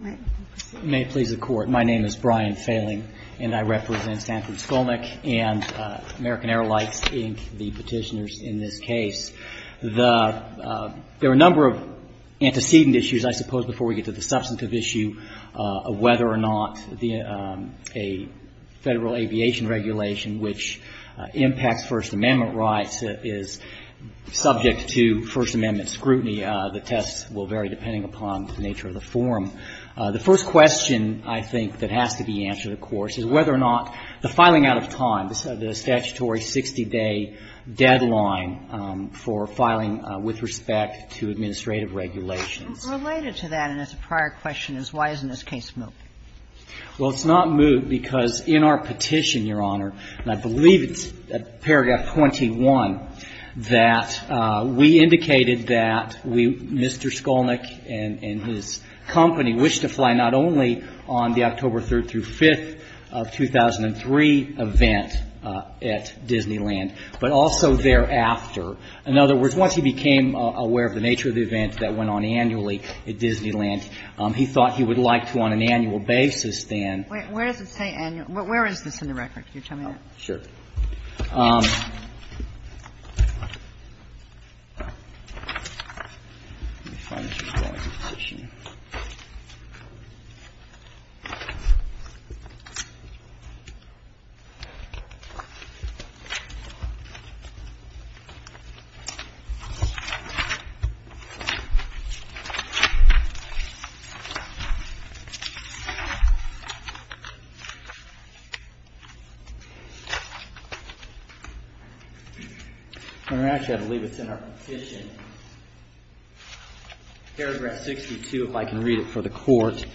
REGULATIONS May it please the Court, my name is Brian Failing, and I represent Stanford Skolnick and American Airlines, Inc., the petitioners in this case. There are a number of antecedent issues, I suppose, before we get to the substantive issue of whether or not a Federal Aviation Regulation which impacts First Amendment rights is subject to First Amendment scrutiny. The tests will vary depending upon the nature of the form. The first question I think that has to be answered, of course, is whether or not the filing out of time, the statutory 60-day deadline for filing with respect to administrative regulations. And related to that, and it's a prior question, is why isn't this case moved? Well, it's not moved because in our petition, Your Honor, and I believe it's at paragraph 21, that we indicated that we, Mr. Skolnick and his company, wished to fly not only on the October 3rd through 5th of 2003 event at Disneyland, but also thereafter. In other words, once he became aware of the nature of the event that went on annually at Disneyland, he thought he would like to on an annual basis then ---- Where does it say annual? Where is this in the record? Can you tell me that? Sure. Let me find some more of this petition. Actually, I believe it's in our petition, paragraph 62, if I can read it for the Court.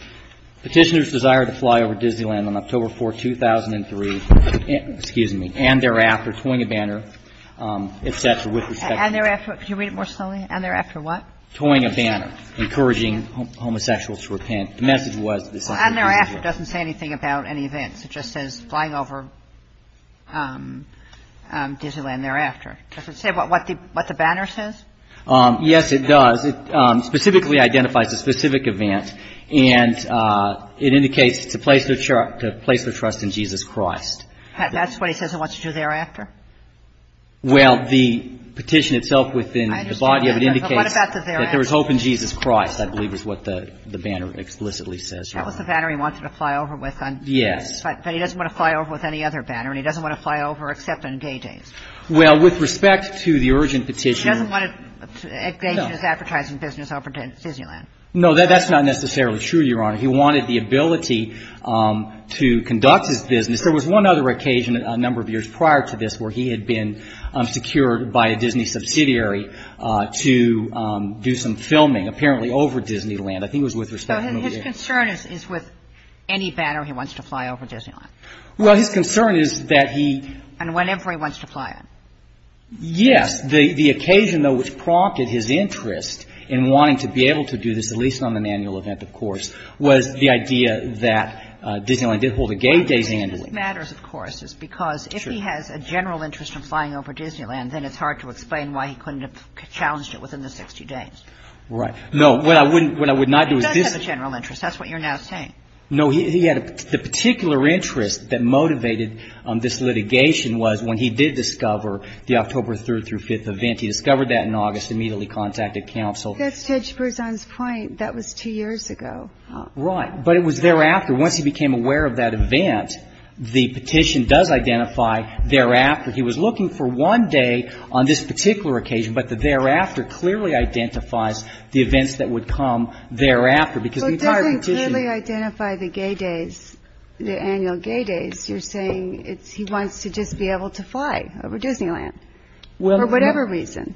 Petitioners desire to fly over Disneyland on October 4, 2003, and thereafter toying a banner, et cetera, with respect to ---- And thereafter? Could you read it more slowly? And thereafter what? Toying a banner, encouraging homosexuals to repent. The message was that this is a place to trust in Jesus Christ. Does it say what the banner says? Yes, it does. It specifically identifies a specific event, and it indicates it's a place to trust in Jesus Christ. That's what he says he wants to do thereafter? Well, the petition itself within the body of it indicates that there is hope in Jesus Christ, I believe is what the banner explicitly says, Your Honor. That was the banner he wanted to fly over with on ---- Yes. But he doesn't want to fly over with any other banner, and he doesn't want to fly over except on day days. Well, with respect to the urgent petitioner ---- He doesn't want to engage in his advertising business over Disneyland. No, that's not necessarily true, Your Honor. He wanted the ability to conduct his business. There was one other occasion a number of years prior to this where he had been secured by a Disney subsidiary to do some filming, apparently over Disneyland. I think it was with respect to ---- So his concern is with any banner he wants to fly over Disneyland? Well, his concern is that he ---- And whenever he wants to fly it? Yes. The occasion, though, which prompted his interest in wanting to be able to do this, at least on an annual event, of course, was the idea that Disneyland did hold a gay day handling. Well, the reason this matters, of course, is because if he has a general interest in flying over Disneyland, then it's hard to explain why he couldn't have challenged it within the 60 days. Right. No. What I wouldn't ---- What I would not do is this ---- He doesn't have a general interest. That's what you're now saying. No. He had a ---- The particular interest that motivated this litigation was when he did discover the October 3rd through 5th event. He discovered that in August, immediately contacted counsel. That's Judge Berzon's point. That was two years ago. Right. But it was thereafter. Once he became aware of that event, the petition does identify thereafter. He was looking for one day on this particular occasion, but the thereafter clearly identifies the events that would come thereafter. Well, it doesn't clearly identify the gay days, the annual gay days. You're saying it's he wants to just be able to fly over Disneyland for whatever reason.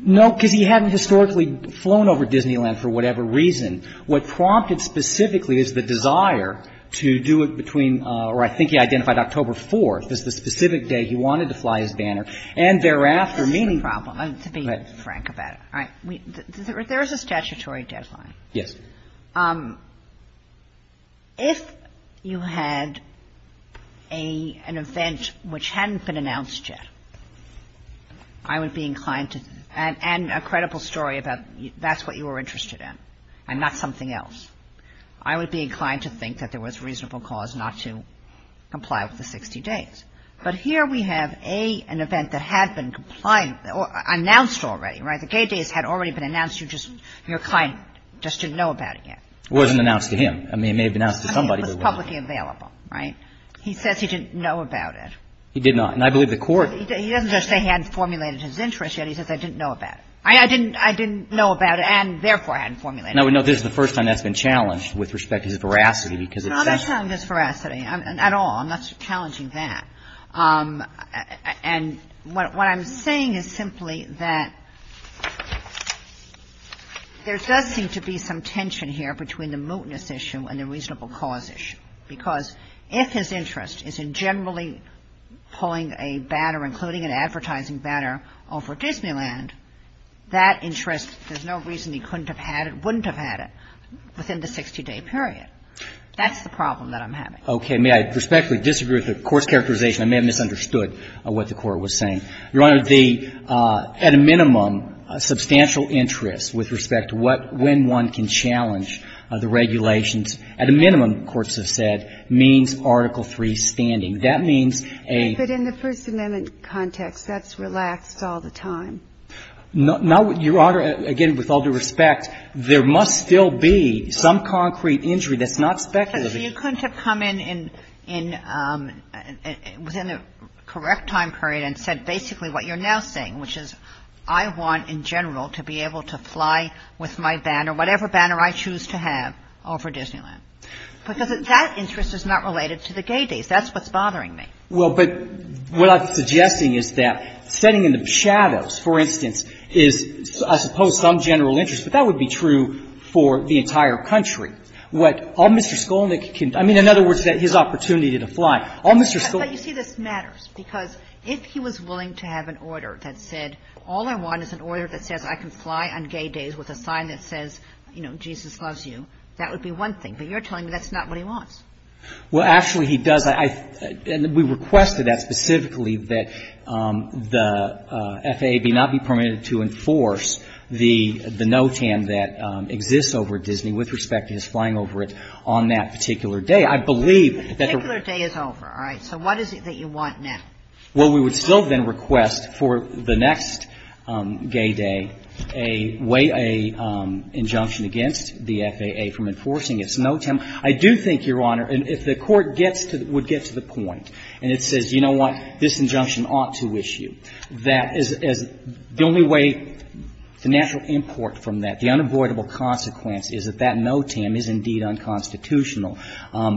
No, because he hadn't historically flown over Disneyland for whatever reason. What prompted specifically is the desire to do it between or I think he identified October 4th as the specific day he wanted to fly his banner. And thereafter, meaning ---- That's the problem, to be frank about it. All right. There is a statutory deadline. Yes. If you had an event which hadn't been announced yet, I would be inclined to and a credible story about that's what you were interested in and not something else. I would be inclined to think that there was reasonable cause not to comply with the 60 days. But here we have an event that had been announced already. Right. The gay days had already been announced. You just your client just didn't know about it yet. It wasn't announced to him. I mean, it may have been announced to somebody. I mean, it was publicly available. Right. He says he didn't know about it. He did not. And I believe the court ---- He doesn't just say he hadn't formulated his interest yet. He says I didn't know about it. I didn't know about it and therefore I hadn't formulated it. And I would note this is the first time that's been challenged with respect to his veracity because it's ---- No, I'm not challenging his veracity at all. I'm not challenging that. And what I'm saying is simply that there does seem to be some tension here between the mootness issue and the reasonable cause issue because if his interest is in generally pulling a banner, including an advertising banner, over Disneyland, that interest, there's no reason he couldn't have had it, wouldn't have had it within the 60-day period. That's the problem that I'm having. Okay. May I respectfully disagree with the court's characterization? I may have misunderstood what the court was saying. Your Honor, the ---- at a minimum, substantial interest with respect to what ---- when one can challenge the regulations, at a minimum, courts have said, means Article III standing. That means a ---- But in the First Amendment context, that's relaxed all the time. No, Your Honor, again, with all due respect, there must still be some concrete injury that's not speculative. So you couldn't have come in, in ---- within the correct time period and said basically what you're now saying, which is I want, in general, to be able to fly with my banner, whatever banner I choose to have, over Disneyland. Because that interest is not related to the gay days. That's what's bothering me. Well, but what I'm suggesting is that setting in the shadows, for instance, is, I suppose, some general interest, but that would be true for the entire country. What all Mr. Skolnick can do ---- I mean, in other words, his opportunity to fly. All Mr. Skolnick can do ---- But you see, this matters, because if he was willing to have an order that said all I want is an order that says I can fly on gay days with a sign that says, you know, Jesus loves you, that would be one thing. But you're telling me that's not what he wants. Well, actually, he does. I ---- and we requested that specifically that the FAA be not be permitted to enforce the NOTAM that exists over at Disney, with respect to his flying over it on that particular day. I believe that the ---- The particular day is over. All right. So what is it that you want now? Well, we would still then request for the next gay day a way ---- an injunction against the FAA from enforcing its NOTAM. I do think, Your Honor, if the Court gets to the ---- would get to the point, and it says, you know what, this injunction ought to issue, that is the only way that the natural import from that, the unavoidable consequence is that that NOTAM is indeed unconstitutional,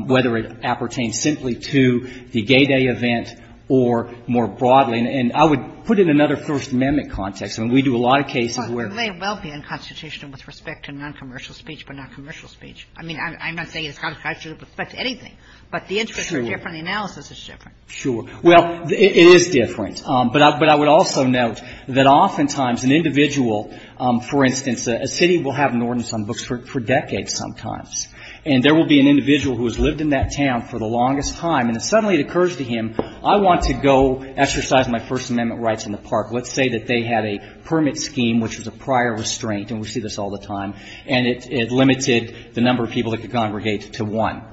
whether it appertains simply to the gay day event or more broadly. And I would put it in another First Amendment context. I mean, we do a lot of cases where ---- Well, it may well be unconstitutional with respect to noncommercial speech, but noncommercial speech. I mean, I'm not saying it's unconstitutional with respect to anything. But the interest is different, the analysis is different. Sure. Well, it is different. But I would also note that oftentimes an individual, for instance, a city will have an ordinance on books for decades sometimes, and there will be an individual who has lived in that town for the longest time, and if suddenly it occurs to him, I want to go exercise my First Amendment rights in the park, let's say that they had a permit scheme which was a prior restraint, and we see this all the time, and it limited the number of people that could congregate to one.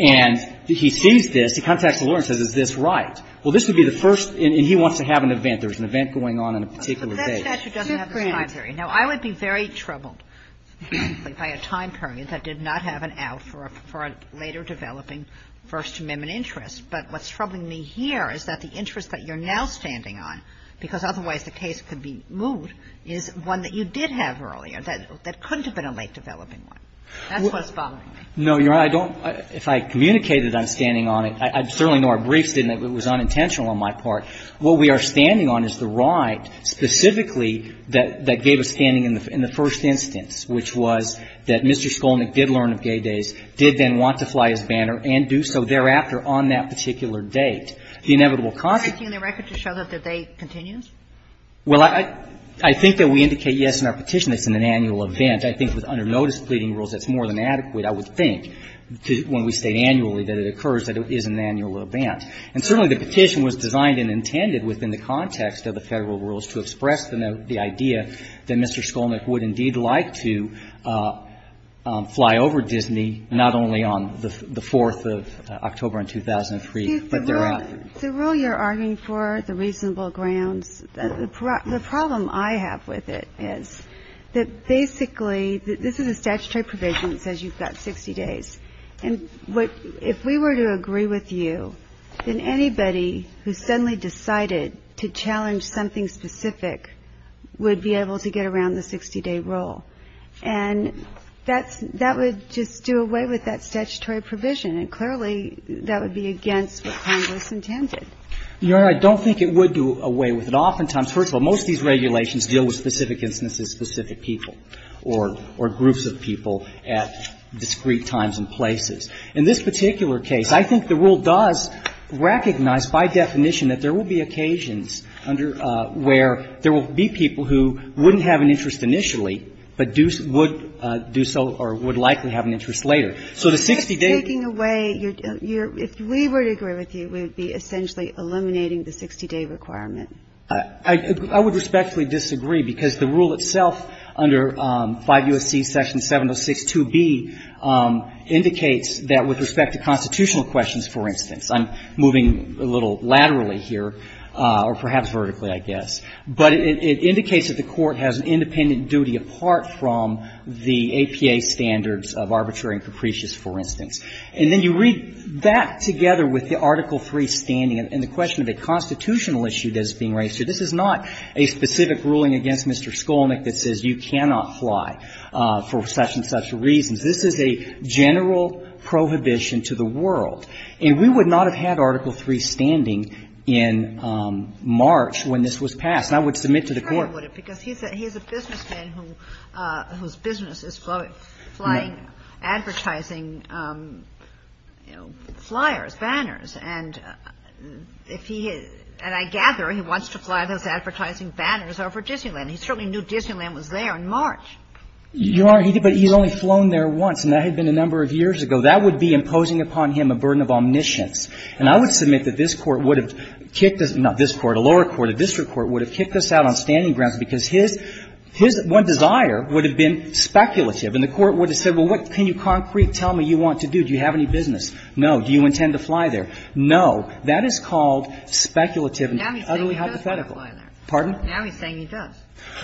And he sees this, he contacts the lawyer and says, is this right? Well, this would be the first, and he wants to have an event. There's an event going on in a particular day. But that statute doesn't have the time period. Now, I would be very troubled by a time period that did not have an out for a later developing First Amendment interest. But what's troubling me here is that the interest that you're now standing on, because otherwise the case could be moved, is one that you did have earlier that couldn't have been a late-developing one. That's what's bothering me. No, Your Honor, I don't – if I communicated I'm standing on it, I'd certainly know I briefed it and it was unintentional on my part. What we are standing on is the right specifically that gave us standing in the first instance, which was that Mr. Skolnick did learn of gay days, did then want to fly his banner, and do so thereafter on that particular date. The inevitable consequence of that is that the date continues. Well, I think that we indicate yes in our petition that it's in an annual event. I think with under notice pleading rules, that's more than adequate, I would think, when we state annually that it occurs that it is an annual event. And certainly the petition was designed and intended within the context of the Federal rules to express the idea that Mr. Skolnick would indeed like to fly over Disney, not only on the 4th of October in 2003, but thereafter. The rule you're arguing for, the reasonable grounds, the problem I have with it is that basically, this is a statutory provision that says you've got 60 days. And what, if we were to agree with you, then anybody who suddenly decided to challenge something specific would be able to get around the 60-day rule. And that's, that would just do away with that statutory provision. And clearly, that would be against what Congress intended. Your Honor, I don't think it would do away with it. Oftentimes, first of all, most of these regulations deal with specific instances, specific people. Or groups of people at discrete times and places. In this particular case, I think the rule does recognize by definition that there will be occasions under where there will be people who wouldn't have an interest initially, but do so, or would likely have an interest later. So the 60-day rule you're arguing for, the reasonable grounds, the problem I have with it is that basically, this is a statutory provision that says you've got 60 days. And what, if we were to agree with you, then anybody who suddenly decided to challenge something specific would be able to get around the 60-day rule. Your Honor, I don't think it would do away with it. And I think the court, 5 U.S.C. Section 706-2B, indicates that with respect to constitutional questions, for instance, I'm moving a little laterally here, or perhaps vertically, I guess. But it indicates that the Court has an independent duty apart from the APA standards of arbitrary and capricious, for instance. And then you read that together with the Article III standing, and the question of a constitutional issue that is being raised here, this is not a specific ruling against Mr. Skolnick that says you cannot fly for such and such reasons. This is a general prohibition to the world. And we would not have had Article III standing in March when this was passed. And I would submit to the Court that it would have. Because he's a businessman whose business is flying advertising, you know, flyers, banners. And if he has – and I gather he wants to fly those advertising banners over Disneyland. He certainly knew Disneyland was there in March. You are – but he's only flown there once, and that had been a number of years ago. That would be imposing upon him a burden of omniscience. And I would submit that this Court would have kicked us – not this Court, a lower court, a district court would have kicked us out on standing grounds, because his – his one desire would have been speculative. And the Court would have said, well, what can you concretely tell me you want to do? Do you have any business? No. Do you intend to fly there? No. That is called speculative and utterly hypothetical. Now he's saying he does want to fly there. Pardon? Now he's saying he does.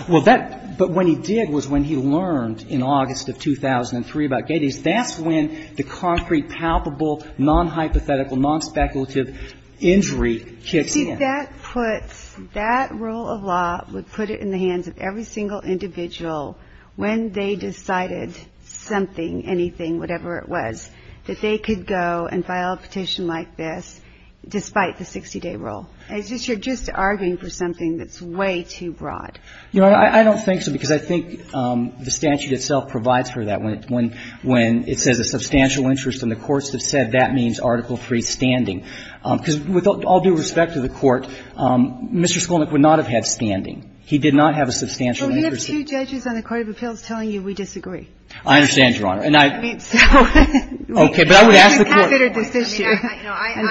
Well, that – but when he did was when he learned in August of 2003 about gay days. That's when the concrete, palpable, non-hypothetical, non-speculative injury kicks in. See, that puts – that rule of law would put it in the hands of every single individual when they decided something, anything, whatever it was, that they could go and file a petition like this, despite the 60-day rule. It's just you're just arguing for something that's way too broad. Your Honor, I don't think so, because I think the statute itself provides for that. When – when it says a substantial interest and the courts have said that means Article III standing. Because with all due respect to the Court, Mr. Skolnick would not have had standing. He did not have a substantial interest in it. But we have two judges on the Court of Appeals telling you we disagree. I understand, Your Honor. And I – I mean, so – Okay. But I would ask the Court – No, I mean, I considered this issue at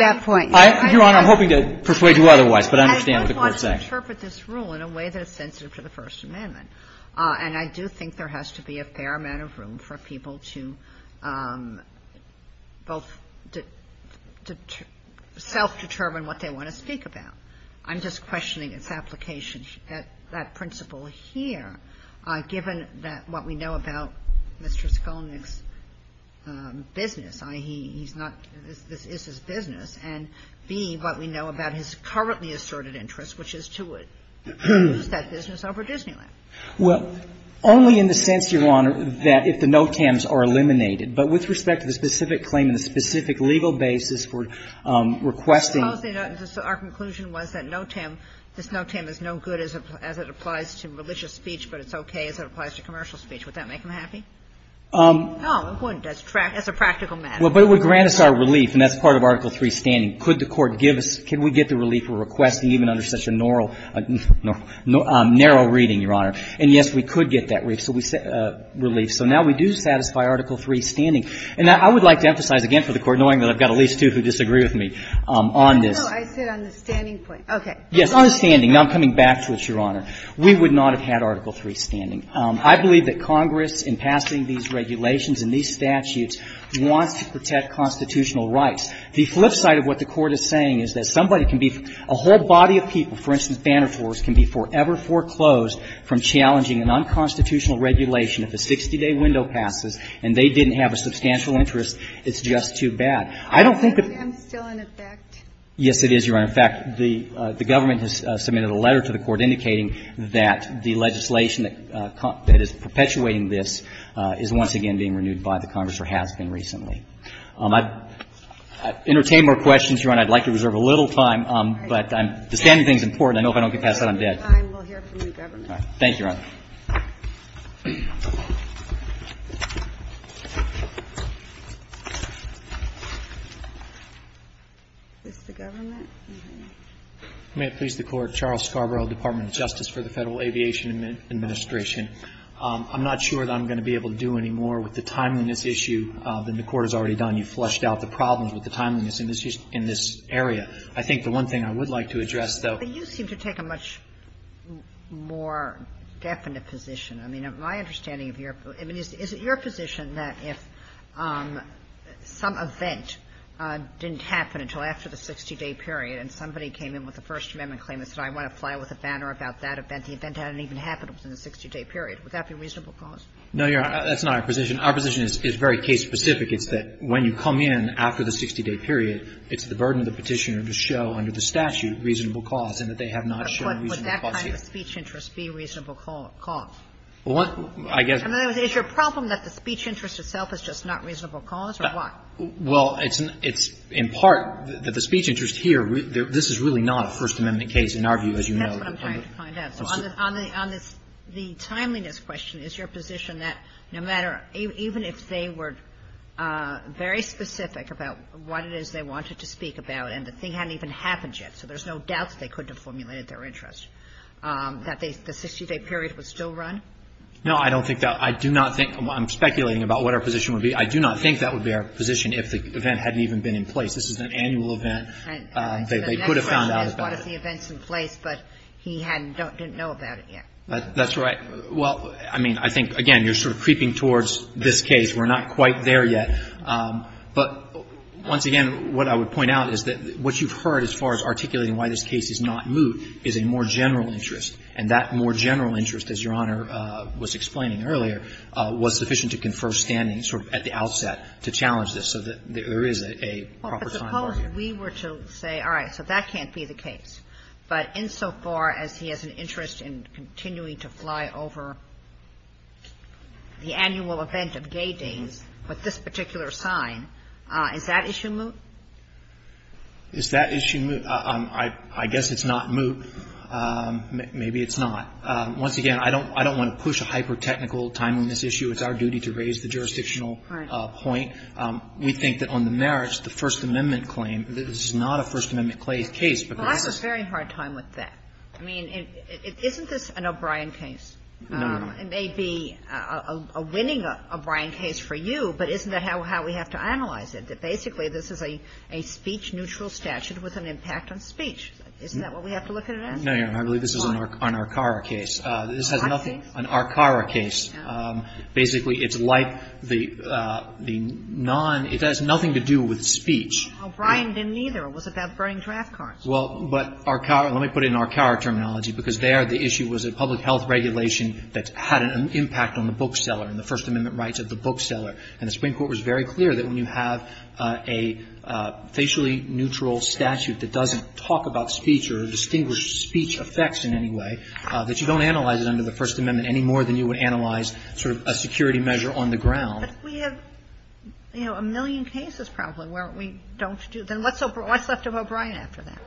that point. I – Your Honor, I'm hoping to persuade you otherwise, but I understand what the Court's saying. I do want to interpret this rule in a way that is sensitive to the First Amendment. And I do think there has to be a fair amount of room for people to both self-determine what they want to speak about. I'm just questioning its application at that principle here, given that what we know about Mr. Skolnick's business, i.e., he's not – this is his business, and, B, what we know about his currently asserted interest, which is to use that business over Disneyland. Well, only in the sense, Your Honor, that if the no-tams are eliminated. But with respect to the specific claim and the specific legal basis for requesting – Supposing our conclusion was that no-tam – this no-tam is no good as it applies to religious speech, but it's okay as it applies to commercial speech. Would that make him happy? No, it wouldn't as a practical matter. Well, but it would grant us our relief, and that's part of Article III's standing. Could the Court give us – can we get the relief for requesting even under such a narrow reading, Your Honor? And, yes, we could get that relief. So now we do satisfy Article III's standing. And I would like to emphasize again for the Court, knowing that I've got at least two who disagree with me on this. No, no. I said on the standing point. Okay. Yes, on the standing. Now I'm coming back to it, Your Honor. We would not have had Article III standing. I believe that Congress, in passing these regulations and these statutes, wants to protect constitutional rights. The flip side of what the Court is saying is that somebody can be – a whole body of people, for instance, banner floors, can be forever foreclosed from challenging a non-constitutional regulation if a 60-day window passes and they didn't have a substantial interest. It's just too bad. I don't think that – I'm still in effect. Yes, it is, Your Honor. In fact, the government has submitted a letter to the Court indicating that the legislation that is perpetuating this is once again being renewed by the Congress or has been recently. I'd entertain more questions, Your Honor. I'd like to reserve a little time, but the standing thing is important. I know if I don't get past that, I'm dead. We'll hear from the government. Thank you, Your Honor. Is this the government? May it please the Court. I'm not sure that I'm going to be able to do any more with the timeliness issue than the Court has already done. You've fleshed out the problems with the timeliness in this area. I think the one thing I would like to address, though – But you seem to take a much more definite position. I mean, my understanding of your – I mean, is it your position that if some event didn't happen until after the 60-day period and somebody came in with a First Amendment claim and said, I want to fly with a banner about that event, the event hadn't even happened until the 60-day period, would that be a reasonable cause? No, Your Honor, that's not our position. Our position is very case-specific. It's that when you come in after the 60-day period, it's the burden of the Petitioner to show under the statute reasonable cause and that they have not shown reasonable cause here. But would that kind of speech interest be a reasonable cause? Well, I guess – In other words, is your problem that the speech interest itself is just not a reasonable cause, or what? Well, it's in part that the speech interest here, this is really not a First Amendment case in our view, as you know. That's what I'm trying to find out. On the – on the timeliness question, is your position that no matter – even if they were very specific about what it is they wanted to speak about and the thing hadn't even happened yet, so there's no doubt that they couldn't have formulated their interest, that the 60-day period would still run? No, I don't think that – I do not think – I'm speculating about what our position would be. I do not think that would be our position if the event hadn't even been in place. This is an annual event. They could have found out about it. They could have brought us the events in place, but he hadn't – didn't know about it yet. That's right. Well, I mean, I think, again, you're sort of creeping towards this case. We're not quite there yet. But once again, what I would point out is that what you've heard as far as articulating why this case is not moot is a more general interest, and that more general interest, as Your Honor was explaining earlier, was sufficient to confer standing sort of at the outset to challenge this so that there is a proper timeline. Suppose we were to say, all right, so that can't be the case, but insofar as he has an interest in continuing to fly over the annual event of gay days with this particular sign, is that issue moot? Is that issue moot? I guess it's not moot. Maybe it's not. Once again, I don't want to push a hyper-technical timeliness issue. It's our duty to raise the jurisdictional point. We think that on the merits, the First Amendment claim, this is not a First Amendment case, but this is the case. Well, I have a very hard time with that. I mean, isn't this an O'Brien case? No, Your Honor. It may be a winning O'Brien case for you, but isn't that how we have to analyze it, that basically this is a speech-neutral statute with an impact on speech? Isn't that what we have to look at it as? No, Your Honor. I believe this is an arcara case. An arcara case? An arcara case. Basically, it's like the non – it has nothing to do with speech. O'Brien didn't either. It was about burning draft cards. Well, but arcara – let me put it in arcara terminology, because there the issue was a public health regulation that had an impact on the bookseller and the First Amendment rights of the bookseller. And the Supreme Court was very clear that when you have a facially neutral statute that doesn't talk about speech or distinguish speech effects in any way, that you don't analyze sort of a security measure on the ground. But we have, you know, a million cases probably where we don't do – then what's left of O'Brien after that?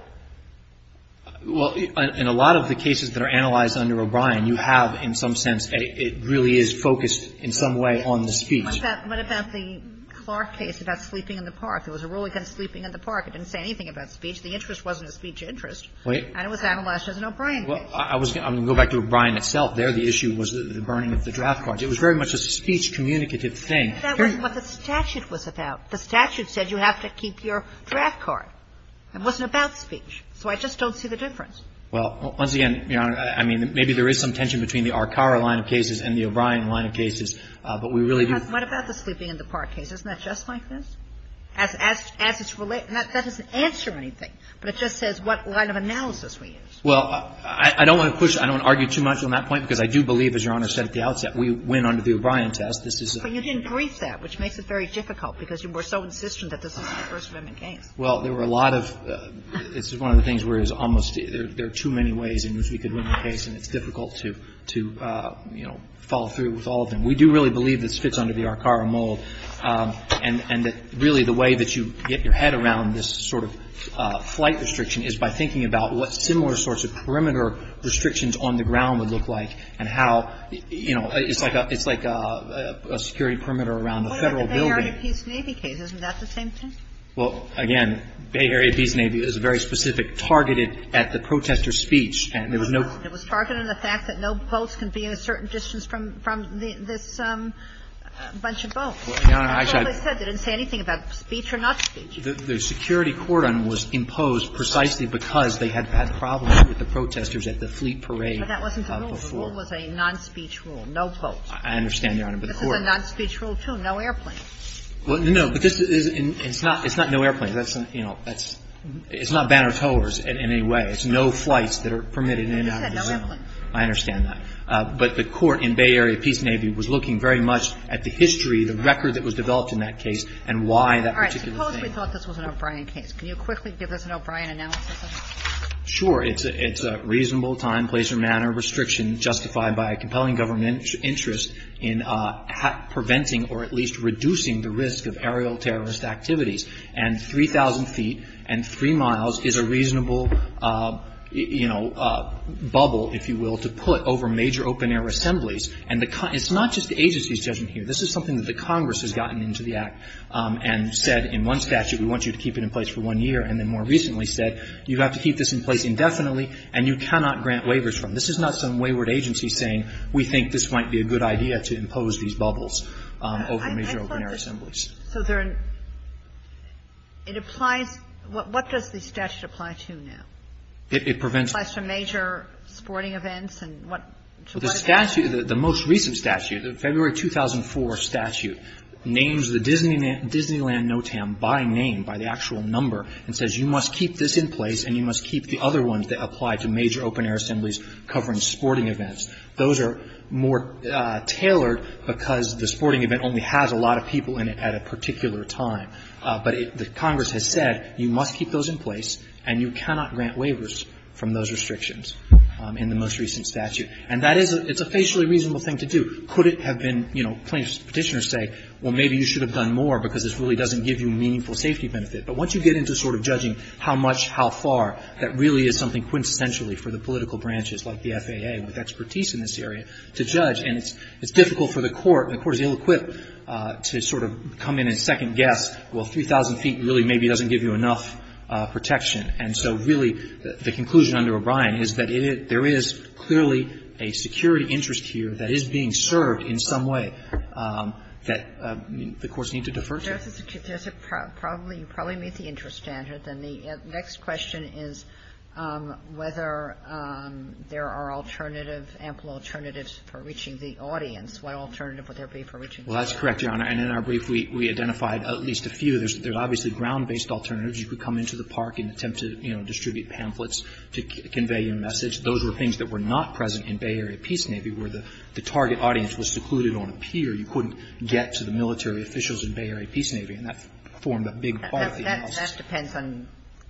Well, in a lot of the cases that are analyzed under O'Brien, you have in some sense – it really is focused in some way on the speech. What about the Clark case about sleeping in the park? There was a rule against sleeping in the park. It didn't say anything about speech. The interest wasn't a speech interest. Wait. And it was analyzed as an O'Brien case. Well, I was – I'm going to go back to O'Brien itself there. The issue was the burning of the draft cards. It was very much a speech communicative thing. That wasn't what the statute was about. The statute said you have to keep your draft card. It wasn't about speech. So I just don't see the difference. Well, once again, Your Honor, I mean, maybe there is some tension between the arcara line of cases and the O'Brien line of cases, but we really do – What about the sleeping in the park case? Isn't that just like this? As it's – that doesn't answer anything, but it just says what line of analysis we use. Well, I don't want to push – I don't want to argue too much on that point, because I do believe, as Your Honor said at the outset, we win under the O'Brien test. This is a – But you didn't brief that, which makes it very difficult, because you were so insistent that this is a First Amendment case. Well, there were a lot of – it's one of the things where it was almost – there are too many ways in which we could win the case, and it's difficult to, you know, follow through with all of them. We do really believe this fits under the arcara mold, and that really the way that you get your head around this sort of flight restriction is by thinking about what similar sorts of perimeter restrictions on the ground would look like and how, you know, it's like a – it's like a security perimeter around a Federal building. What about the Bay Area Peace Navy case? Isn't that the same thing? Well, again, Bay Area Peace Navy is very specific, targeted at the protester's speech, and there was no – It was targeted on the fact that no boats can be a certain distance from – from this bunch of boats. Your Honor, I said – I totally said they didn't say anything about speech or not speech. The security cordon was imposed precisely because they had had problems with the protesters at the fleet parade before. But that wasn't the rule. The rule was a non-speech rule, no boats. I understand, Your Honor, but the court – This is a non-speech rule, too, no airplanes. Well, no, but this is – it's not – it's not no airplanes. That's – you know, that's – it's not banner towers in any way. It's no flights that are permitted in and out of the zone. You said no airplanes. I understand that. But the court in Bay Area Peace Navy was looking very much at the history, the record that was developed in that case, and why that particular thing. Suppose we thought this was an O'Brien case. Can you quickly give us an O'Brien analysis of it? Sure. It's a – it's a reasonable time, place or manner restriction justified by a compelling government interest in preventing or at least reducing the risk of aerial terrorist activities. And 3,000 feet and 3 miles is a reasonable, you know, bubble, if you will, to put over major open-air assemblies. And the – it's not just the agency's judgment here. This is something that the Congress has gotten into the act and said in one statute, we want you to keep it in place for one year, and then more recently said, you have to keep this in place indefinitely, and you cannot grant waivers from. This is not some wayward agency saying, we think this might be a good idea to impose these bubbles over major open-air assemblies. I thought this – so there – it applies – what does the statute apply to now? It prevents – It applies to major sporting events and what – to what – The statute – the most recent statute, the February 2004 statute, names the Disneyland No-Tam by name, by the actual number, and says you must keep this in place and you must keep the other ones that apply to major open-air assemblies covering sporting events. Those are more tailored because the sporting event only has a lot of people in it at a particular time. But the Congress has said you must keep those in place and you cannot grant waivers from those restrictions in the most recent statute. And that is a – it's a facially reasonable thing to do. Could it have been, you know, plaintiffs' Petitioners say, well, maybe you should have done more because this really doesn't give you meaningful safety benefit. But once you get into sort of judging how much, how far, that really is something quintessentially for the political branches, like the FAA, with expertise in this area, to judge. And it's difficult for the Court, and the Court is ill-equipped to sort of come in and second-guess, well, 3,000 feet really maybe doesn't give you enough protection. And so really, the conclusion under O'Brien is that it is – there is clearly a security interest here that is being served in some way that the courts need to defer to. Ginsburg. There's a – there's a probably – you probably meet the interest standard. And the next question is whether there are alternative, ample alternatives for reaching the audience. What alternative would there be for reaching the audience? Well, that's correct, Your Honor. And in our brief, we identified at least a few. There's obviously ground-based alternatives. You could come into the park and attempt to, you know, distribute pamphlets to convey your message. Those were things that were not present in Bay Area Peace Navy, where the target audience was secluded on a pier. You couldn't get to the military officials in Bay Area Peace Navy. And that formed a big part of the – That depends on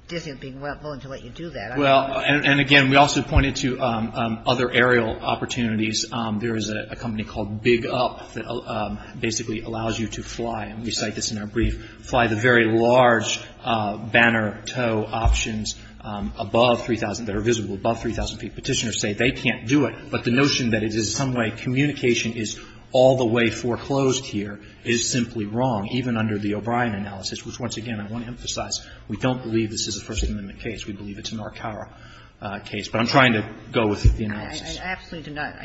Disney being willing to let you do that. Well, and again, we also pointed to other aerial opportunities. There is a company called Big Up that basically allows you to fly – and we cite this in our brief – fly the very large banner tow options above 3,000 – that are visible above 3,000 feet. Petitioners say they can't do it, but the notion that it is some way communication is all the way foreclosed here is simply wrong, even under the O'Brien analysis, which, once again, I want to emphasize, we don't believe this is a First Amendment case. We believe it's a Narcara case. But I'm trying to go with the analysis. I absolutely do not.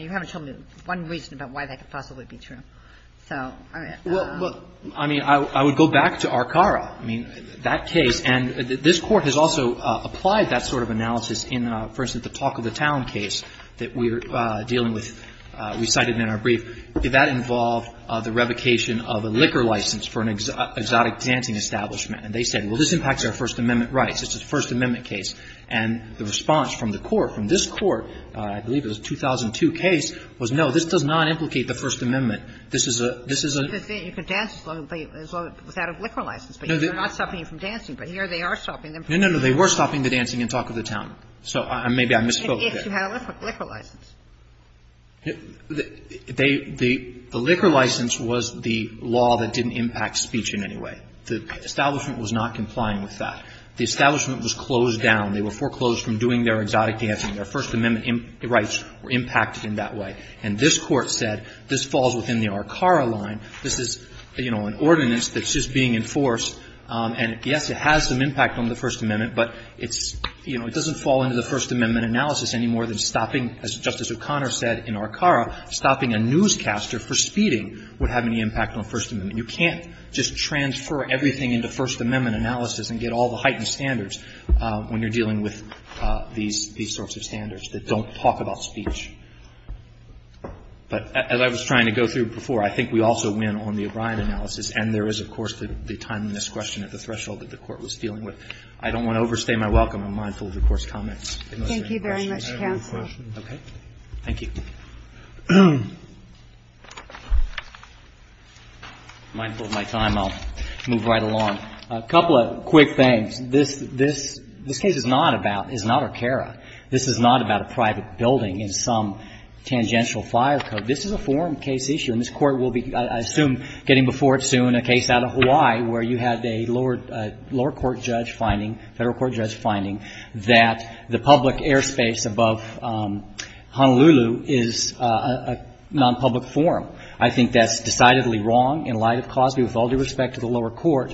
So, all right. Well, I mean, I would go back to Arcara. I mean, that case – and this Court has also applied that sort of analysis in, for instance, the Talk of the Town case that we're dealing with – we cited in our brief. Did that involve the revocation of a liquor license for an exotic dancing establishment? And they said, well, this impacts our First Amendment rights. It's a First Amendment case. And the response from the Court, from this Court – I believe it was a 2002 case – was, no, this does not implicate the First Amendment. This is a – this is a – You can dance as long as they have a liquor license. They're not stopping you from dancing, but here they are stopping them from dancing. No, no, no. They were stopping the dancing in Talk of the Town. So maybe I misspoke there. If you had a liquor license. They – the liquor license was the law that didn't impact speech in any way. The establishment was not complying with that. The establishment was closed down. They were foreclosed from doing their exotic dancing. Their First Amendment rights were impacted in that way. And this Court said this falls within the Arcara line. This is, you know, an ordinance that's just being enforced. And yes, it has some impact on the First Amendment, but it's – you know, it doesn't fall into the First Amendment analysis any more than stopping, as Justice O'Connor said in Arcara, stopping a newscaster for speeding would have any impact on First Amendment. You can't just transfer everything into First Amendment analysis and get all the heightened standards when you're dealing with these – these sorts of standards that don't talk about speech. But as I was trying to go through before, I think we also win on the O'Brien analysis, and there is, of course, the time in this question at the threshold that the Court was dealing with. I don't want to overstay my welcome. I'm mindful of the Court's comments. If there's any questions. Kagan. Thank you very much, counsel. I have a question. Okay. Thank you. Mindful of my time, I'll move right along. A couple of quick things. This – this case is not about – is not Arcara. This is not about a private building in some tangential fire code. This is a forum case issue, and this Court will be, I assume, getting before it soon, a case out of Hawaii where you had a lower – a lower court judge finding, Federal Court judge finding that the public airspace above Honolulu is a nonpublic forum. I think that's decidedly wrong in light of Cosby with all due respect to the lower court. Do you think that – do you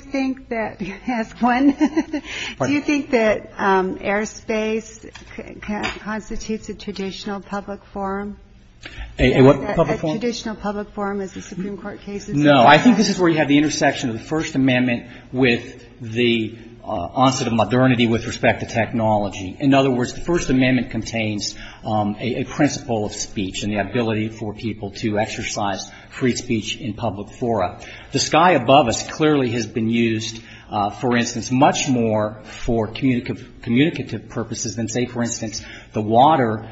think that – ask one. Do you think that airspace constitutes a traditional public forum? A what? A traditional public forum as the Supreme Court case is? No. I think this is where you have the intersection of the First Amendment with the onset of modernity with respect to technology. In other words, the First Amendment contains a principle of speech and the ability for people to exercise free speech in public fora. The sky above us clearly has been used, for instance, much more for communicative purposes than, say, for instance, the water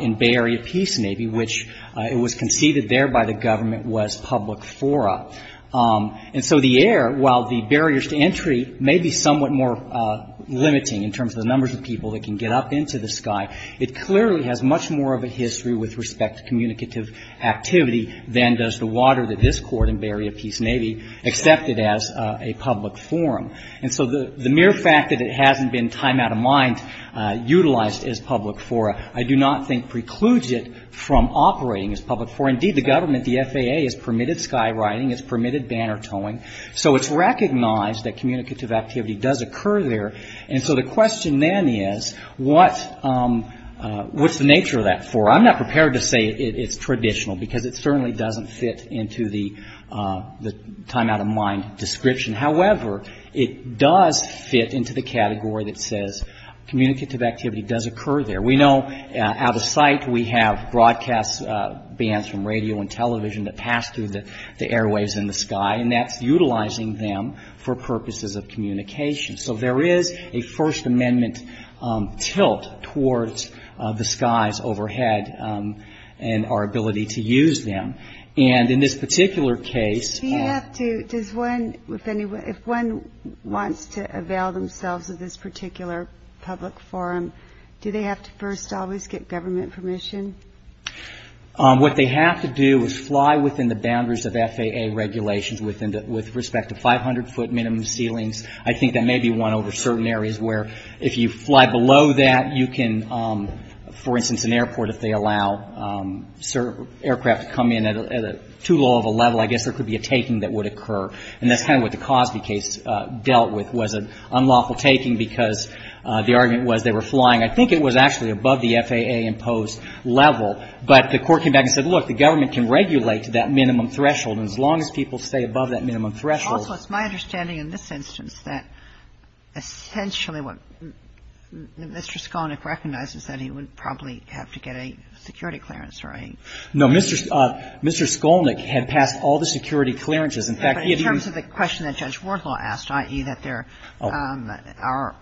in Bay Area Peace Navy, which it was conceded there by the government was public fora. And so the air, while the barriers to entry may be somewhat more limiting in terms of the numbers of people that can get up into the sky, it clearly has much more of a history with respect to communicative activity than does the water that this court in Bay Area Peace Navy accepted as a public forum. And so the mere fact that it hasn't been time out of mind utilized as public fora I do not think precludes it from operating as public fora. Indeed, the government, the FAA, has permitted sky writing, has permitted banner towing. So it's recognized that communicative activity does occur there. I'm not prepared to say it's traditional because it certainly doesn't fit into the time out of mind description. However, it does fit into the category that says communicative activity does occur there. We know out of sight we have broadcast bands from radio and television that pass through the airwaves in the sky, and that's utilizing them for purposes of communication. So there is a First Amendment tilt towards the skies overhead and our ability to use them. And in this particular case... Do you have to, does one, if anyone, if one wants to avail themselves of this particular public forum, do they have to first always get government permission? What they have to do is fly within the boundaries of FAA regulations with respect to 500 foot minimum ceilings. I think that may be one over certain areas where if you fly below that, you can, for instance, an airport, if they allow aircraft to come in at too low of a level, I guess there could be a taking that would occur. And that's kind of what the Cosby case dealt with, was an unlawful taking because the argument was they were flying. I think it was actually above the FAA-imposed level, but the Court came back and said, look, the government can regulate to that minimum threshold, and as long as people stay above that minimum threshold... And I think that's a good point, and I think that's a good point, too, is that essentially what Mr. Skolnick recognizes, that he would probably have to get a security clearance, right? No. Mr. Skolnick had passed all the security clearances. In fact, he had even... But in terms of the question that Judge Wardlaw asked, i.e., that there are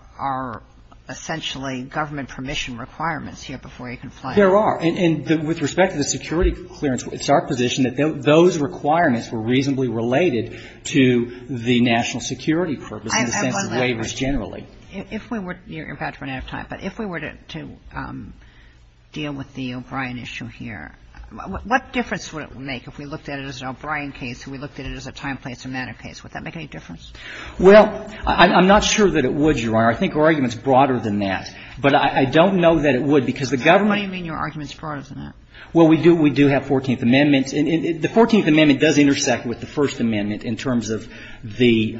essentially government permission requirements here before you can fly. There are. And with respect to the security clearance, it's our position that those requirements were reasonably related to the national security purpose in the sense of waivers generally. If we were to deal with the O'Brien issue here, what difference would it make if we looked at it as an O'Brien case, if we looked at it as a time, place or matter case? Would that make any difference? Well, I'm not sure that it would, Your Honor. I think our argument is broader than that. But I don't know that it would because the government... What do you mean your argument is broader than that? Well, we do have Fourteenth Amendment. And the Fourteenth Amendment does intersect with the First Amendment in terms of the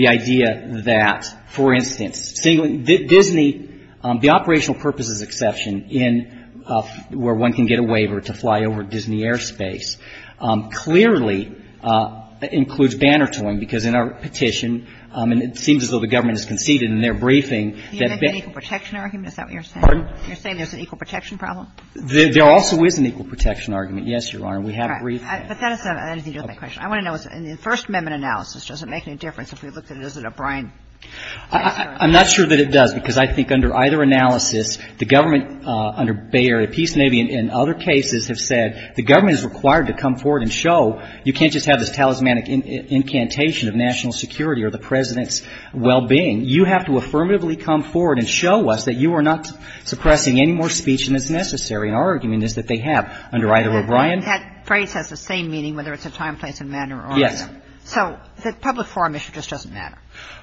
idea that, for instance, Disney, the operational purposes exception in where one can get a waiver to fly over Disney Airspace clearly includes bannertoing, because in our petition, and it seems as though the government has conceded in their briefing that... Do you have an equal protection argument? Is that what you're saying? Pardon? You're saying there's an equal protection problem? There also is an equal protection argument, yes, Your Honor. We have a brief case. But that doesn't answer my question. I want to know, in the First Amendment analysis, does it make any difference if we looked at it as an O'Brien case? I'm not sure that it does, because I think under either analysis, the government under Bay Area Peace Navy and other cases have said the government is required to come forward and show you can't just have this talismanic incantation of national security or the President's well-being. You have to affirmatively come forward and show us that you are not suppressing any more speech than is necessary. And our argument is that they have. Under either O'Brien... That phrase has the same meaning, whether it's a time, place, and manner or not. Yes. So the public forum issue just doesn't matter.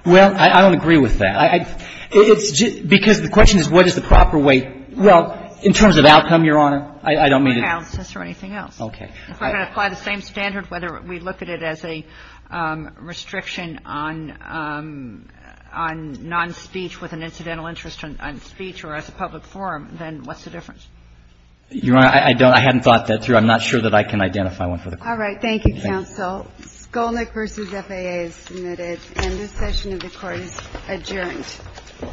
Well, I don't agree with that. It's just because the question is what is the proper way. Well, in terms of outcome, Your Honor, I don't mean to... Accounts or anything else. Okay. If we're going to apply the same standard, whether we look at it as a restriction on non-speech with an incidental interest on speech or as a public forum, then what's the difference? Your Honor, I don't – I haven't thought that through. I'm not sure that I can identify one for the Court. All right. Thank you, counsel. Skolnick v. FAA is submitted, and this session of the Court is adjourned. All rise. This Court is adjourned 10 to 10.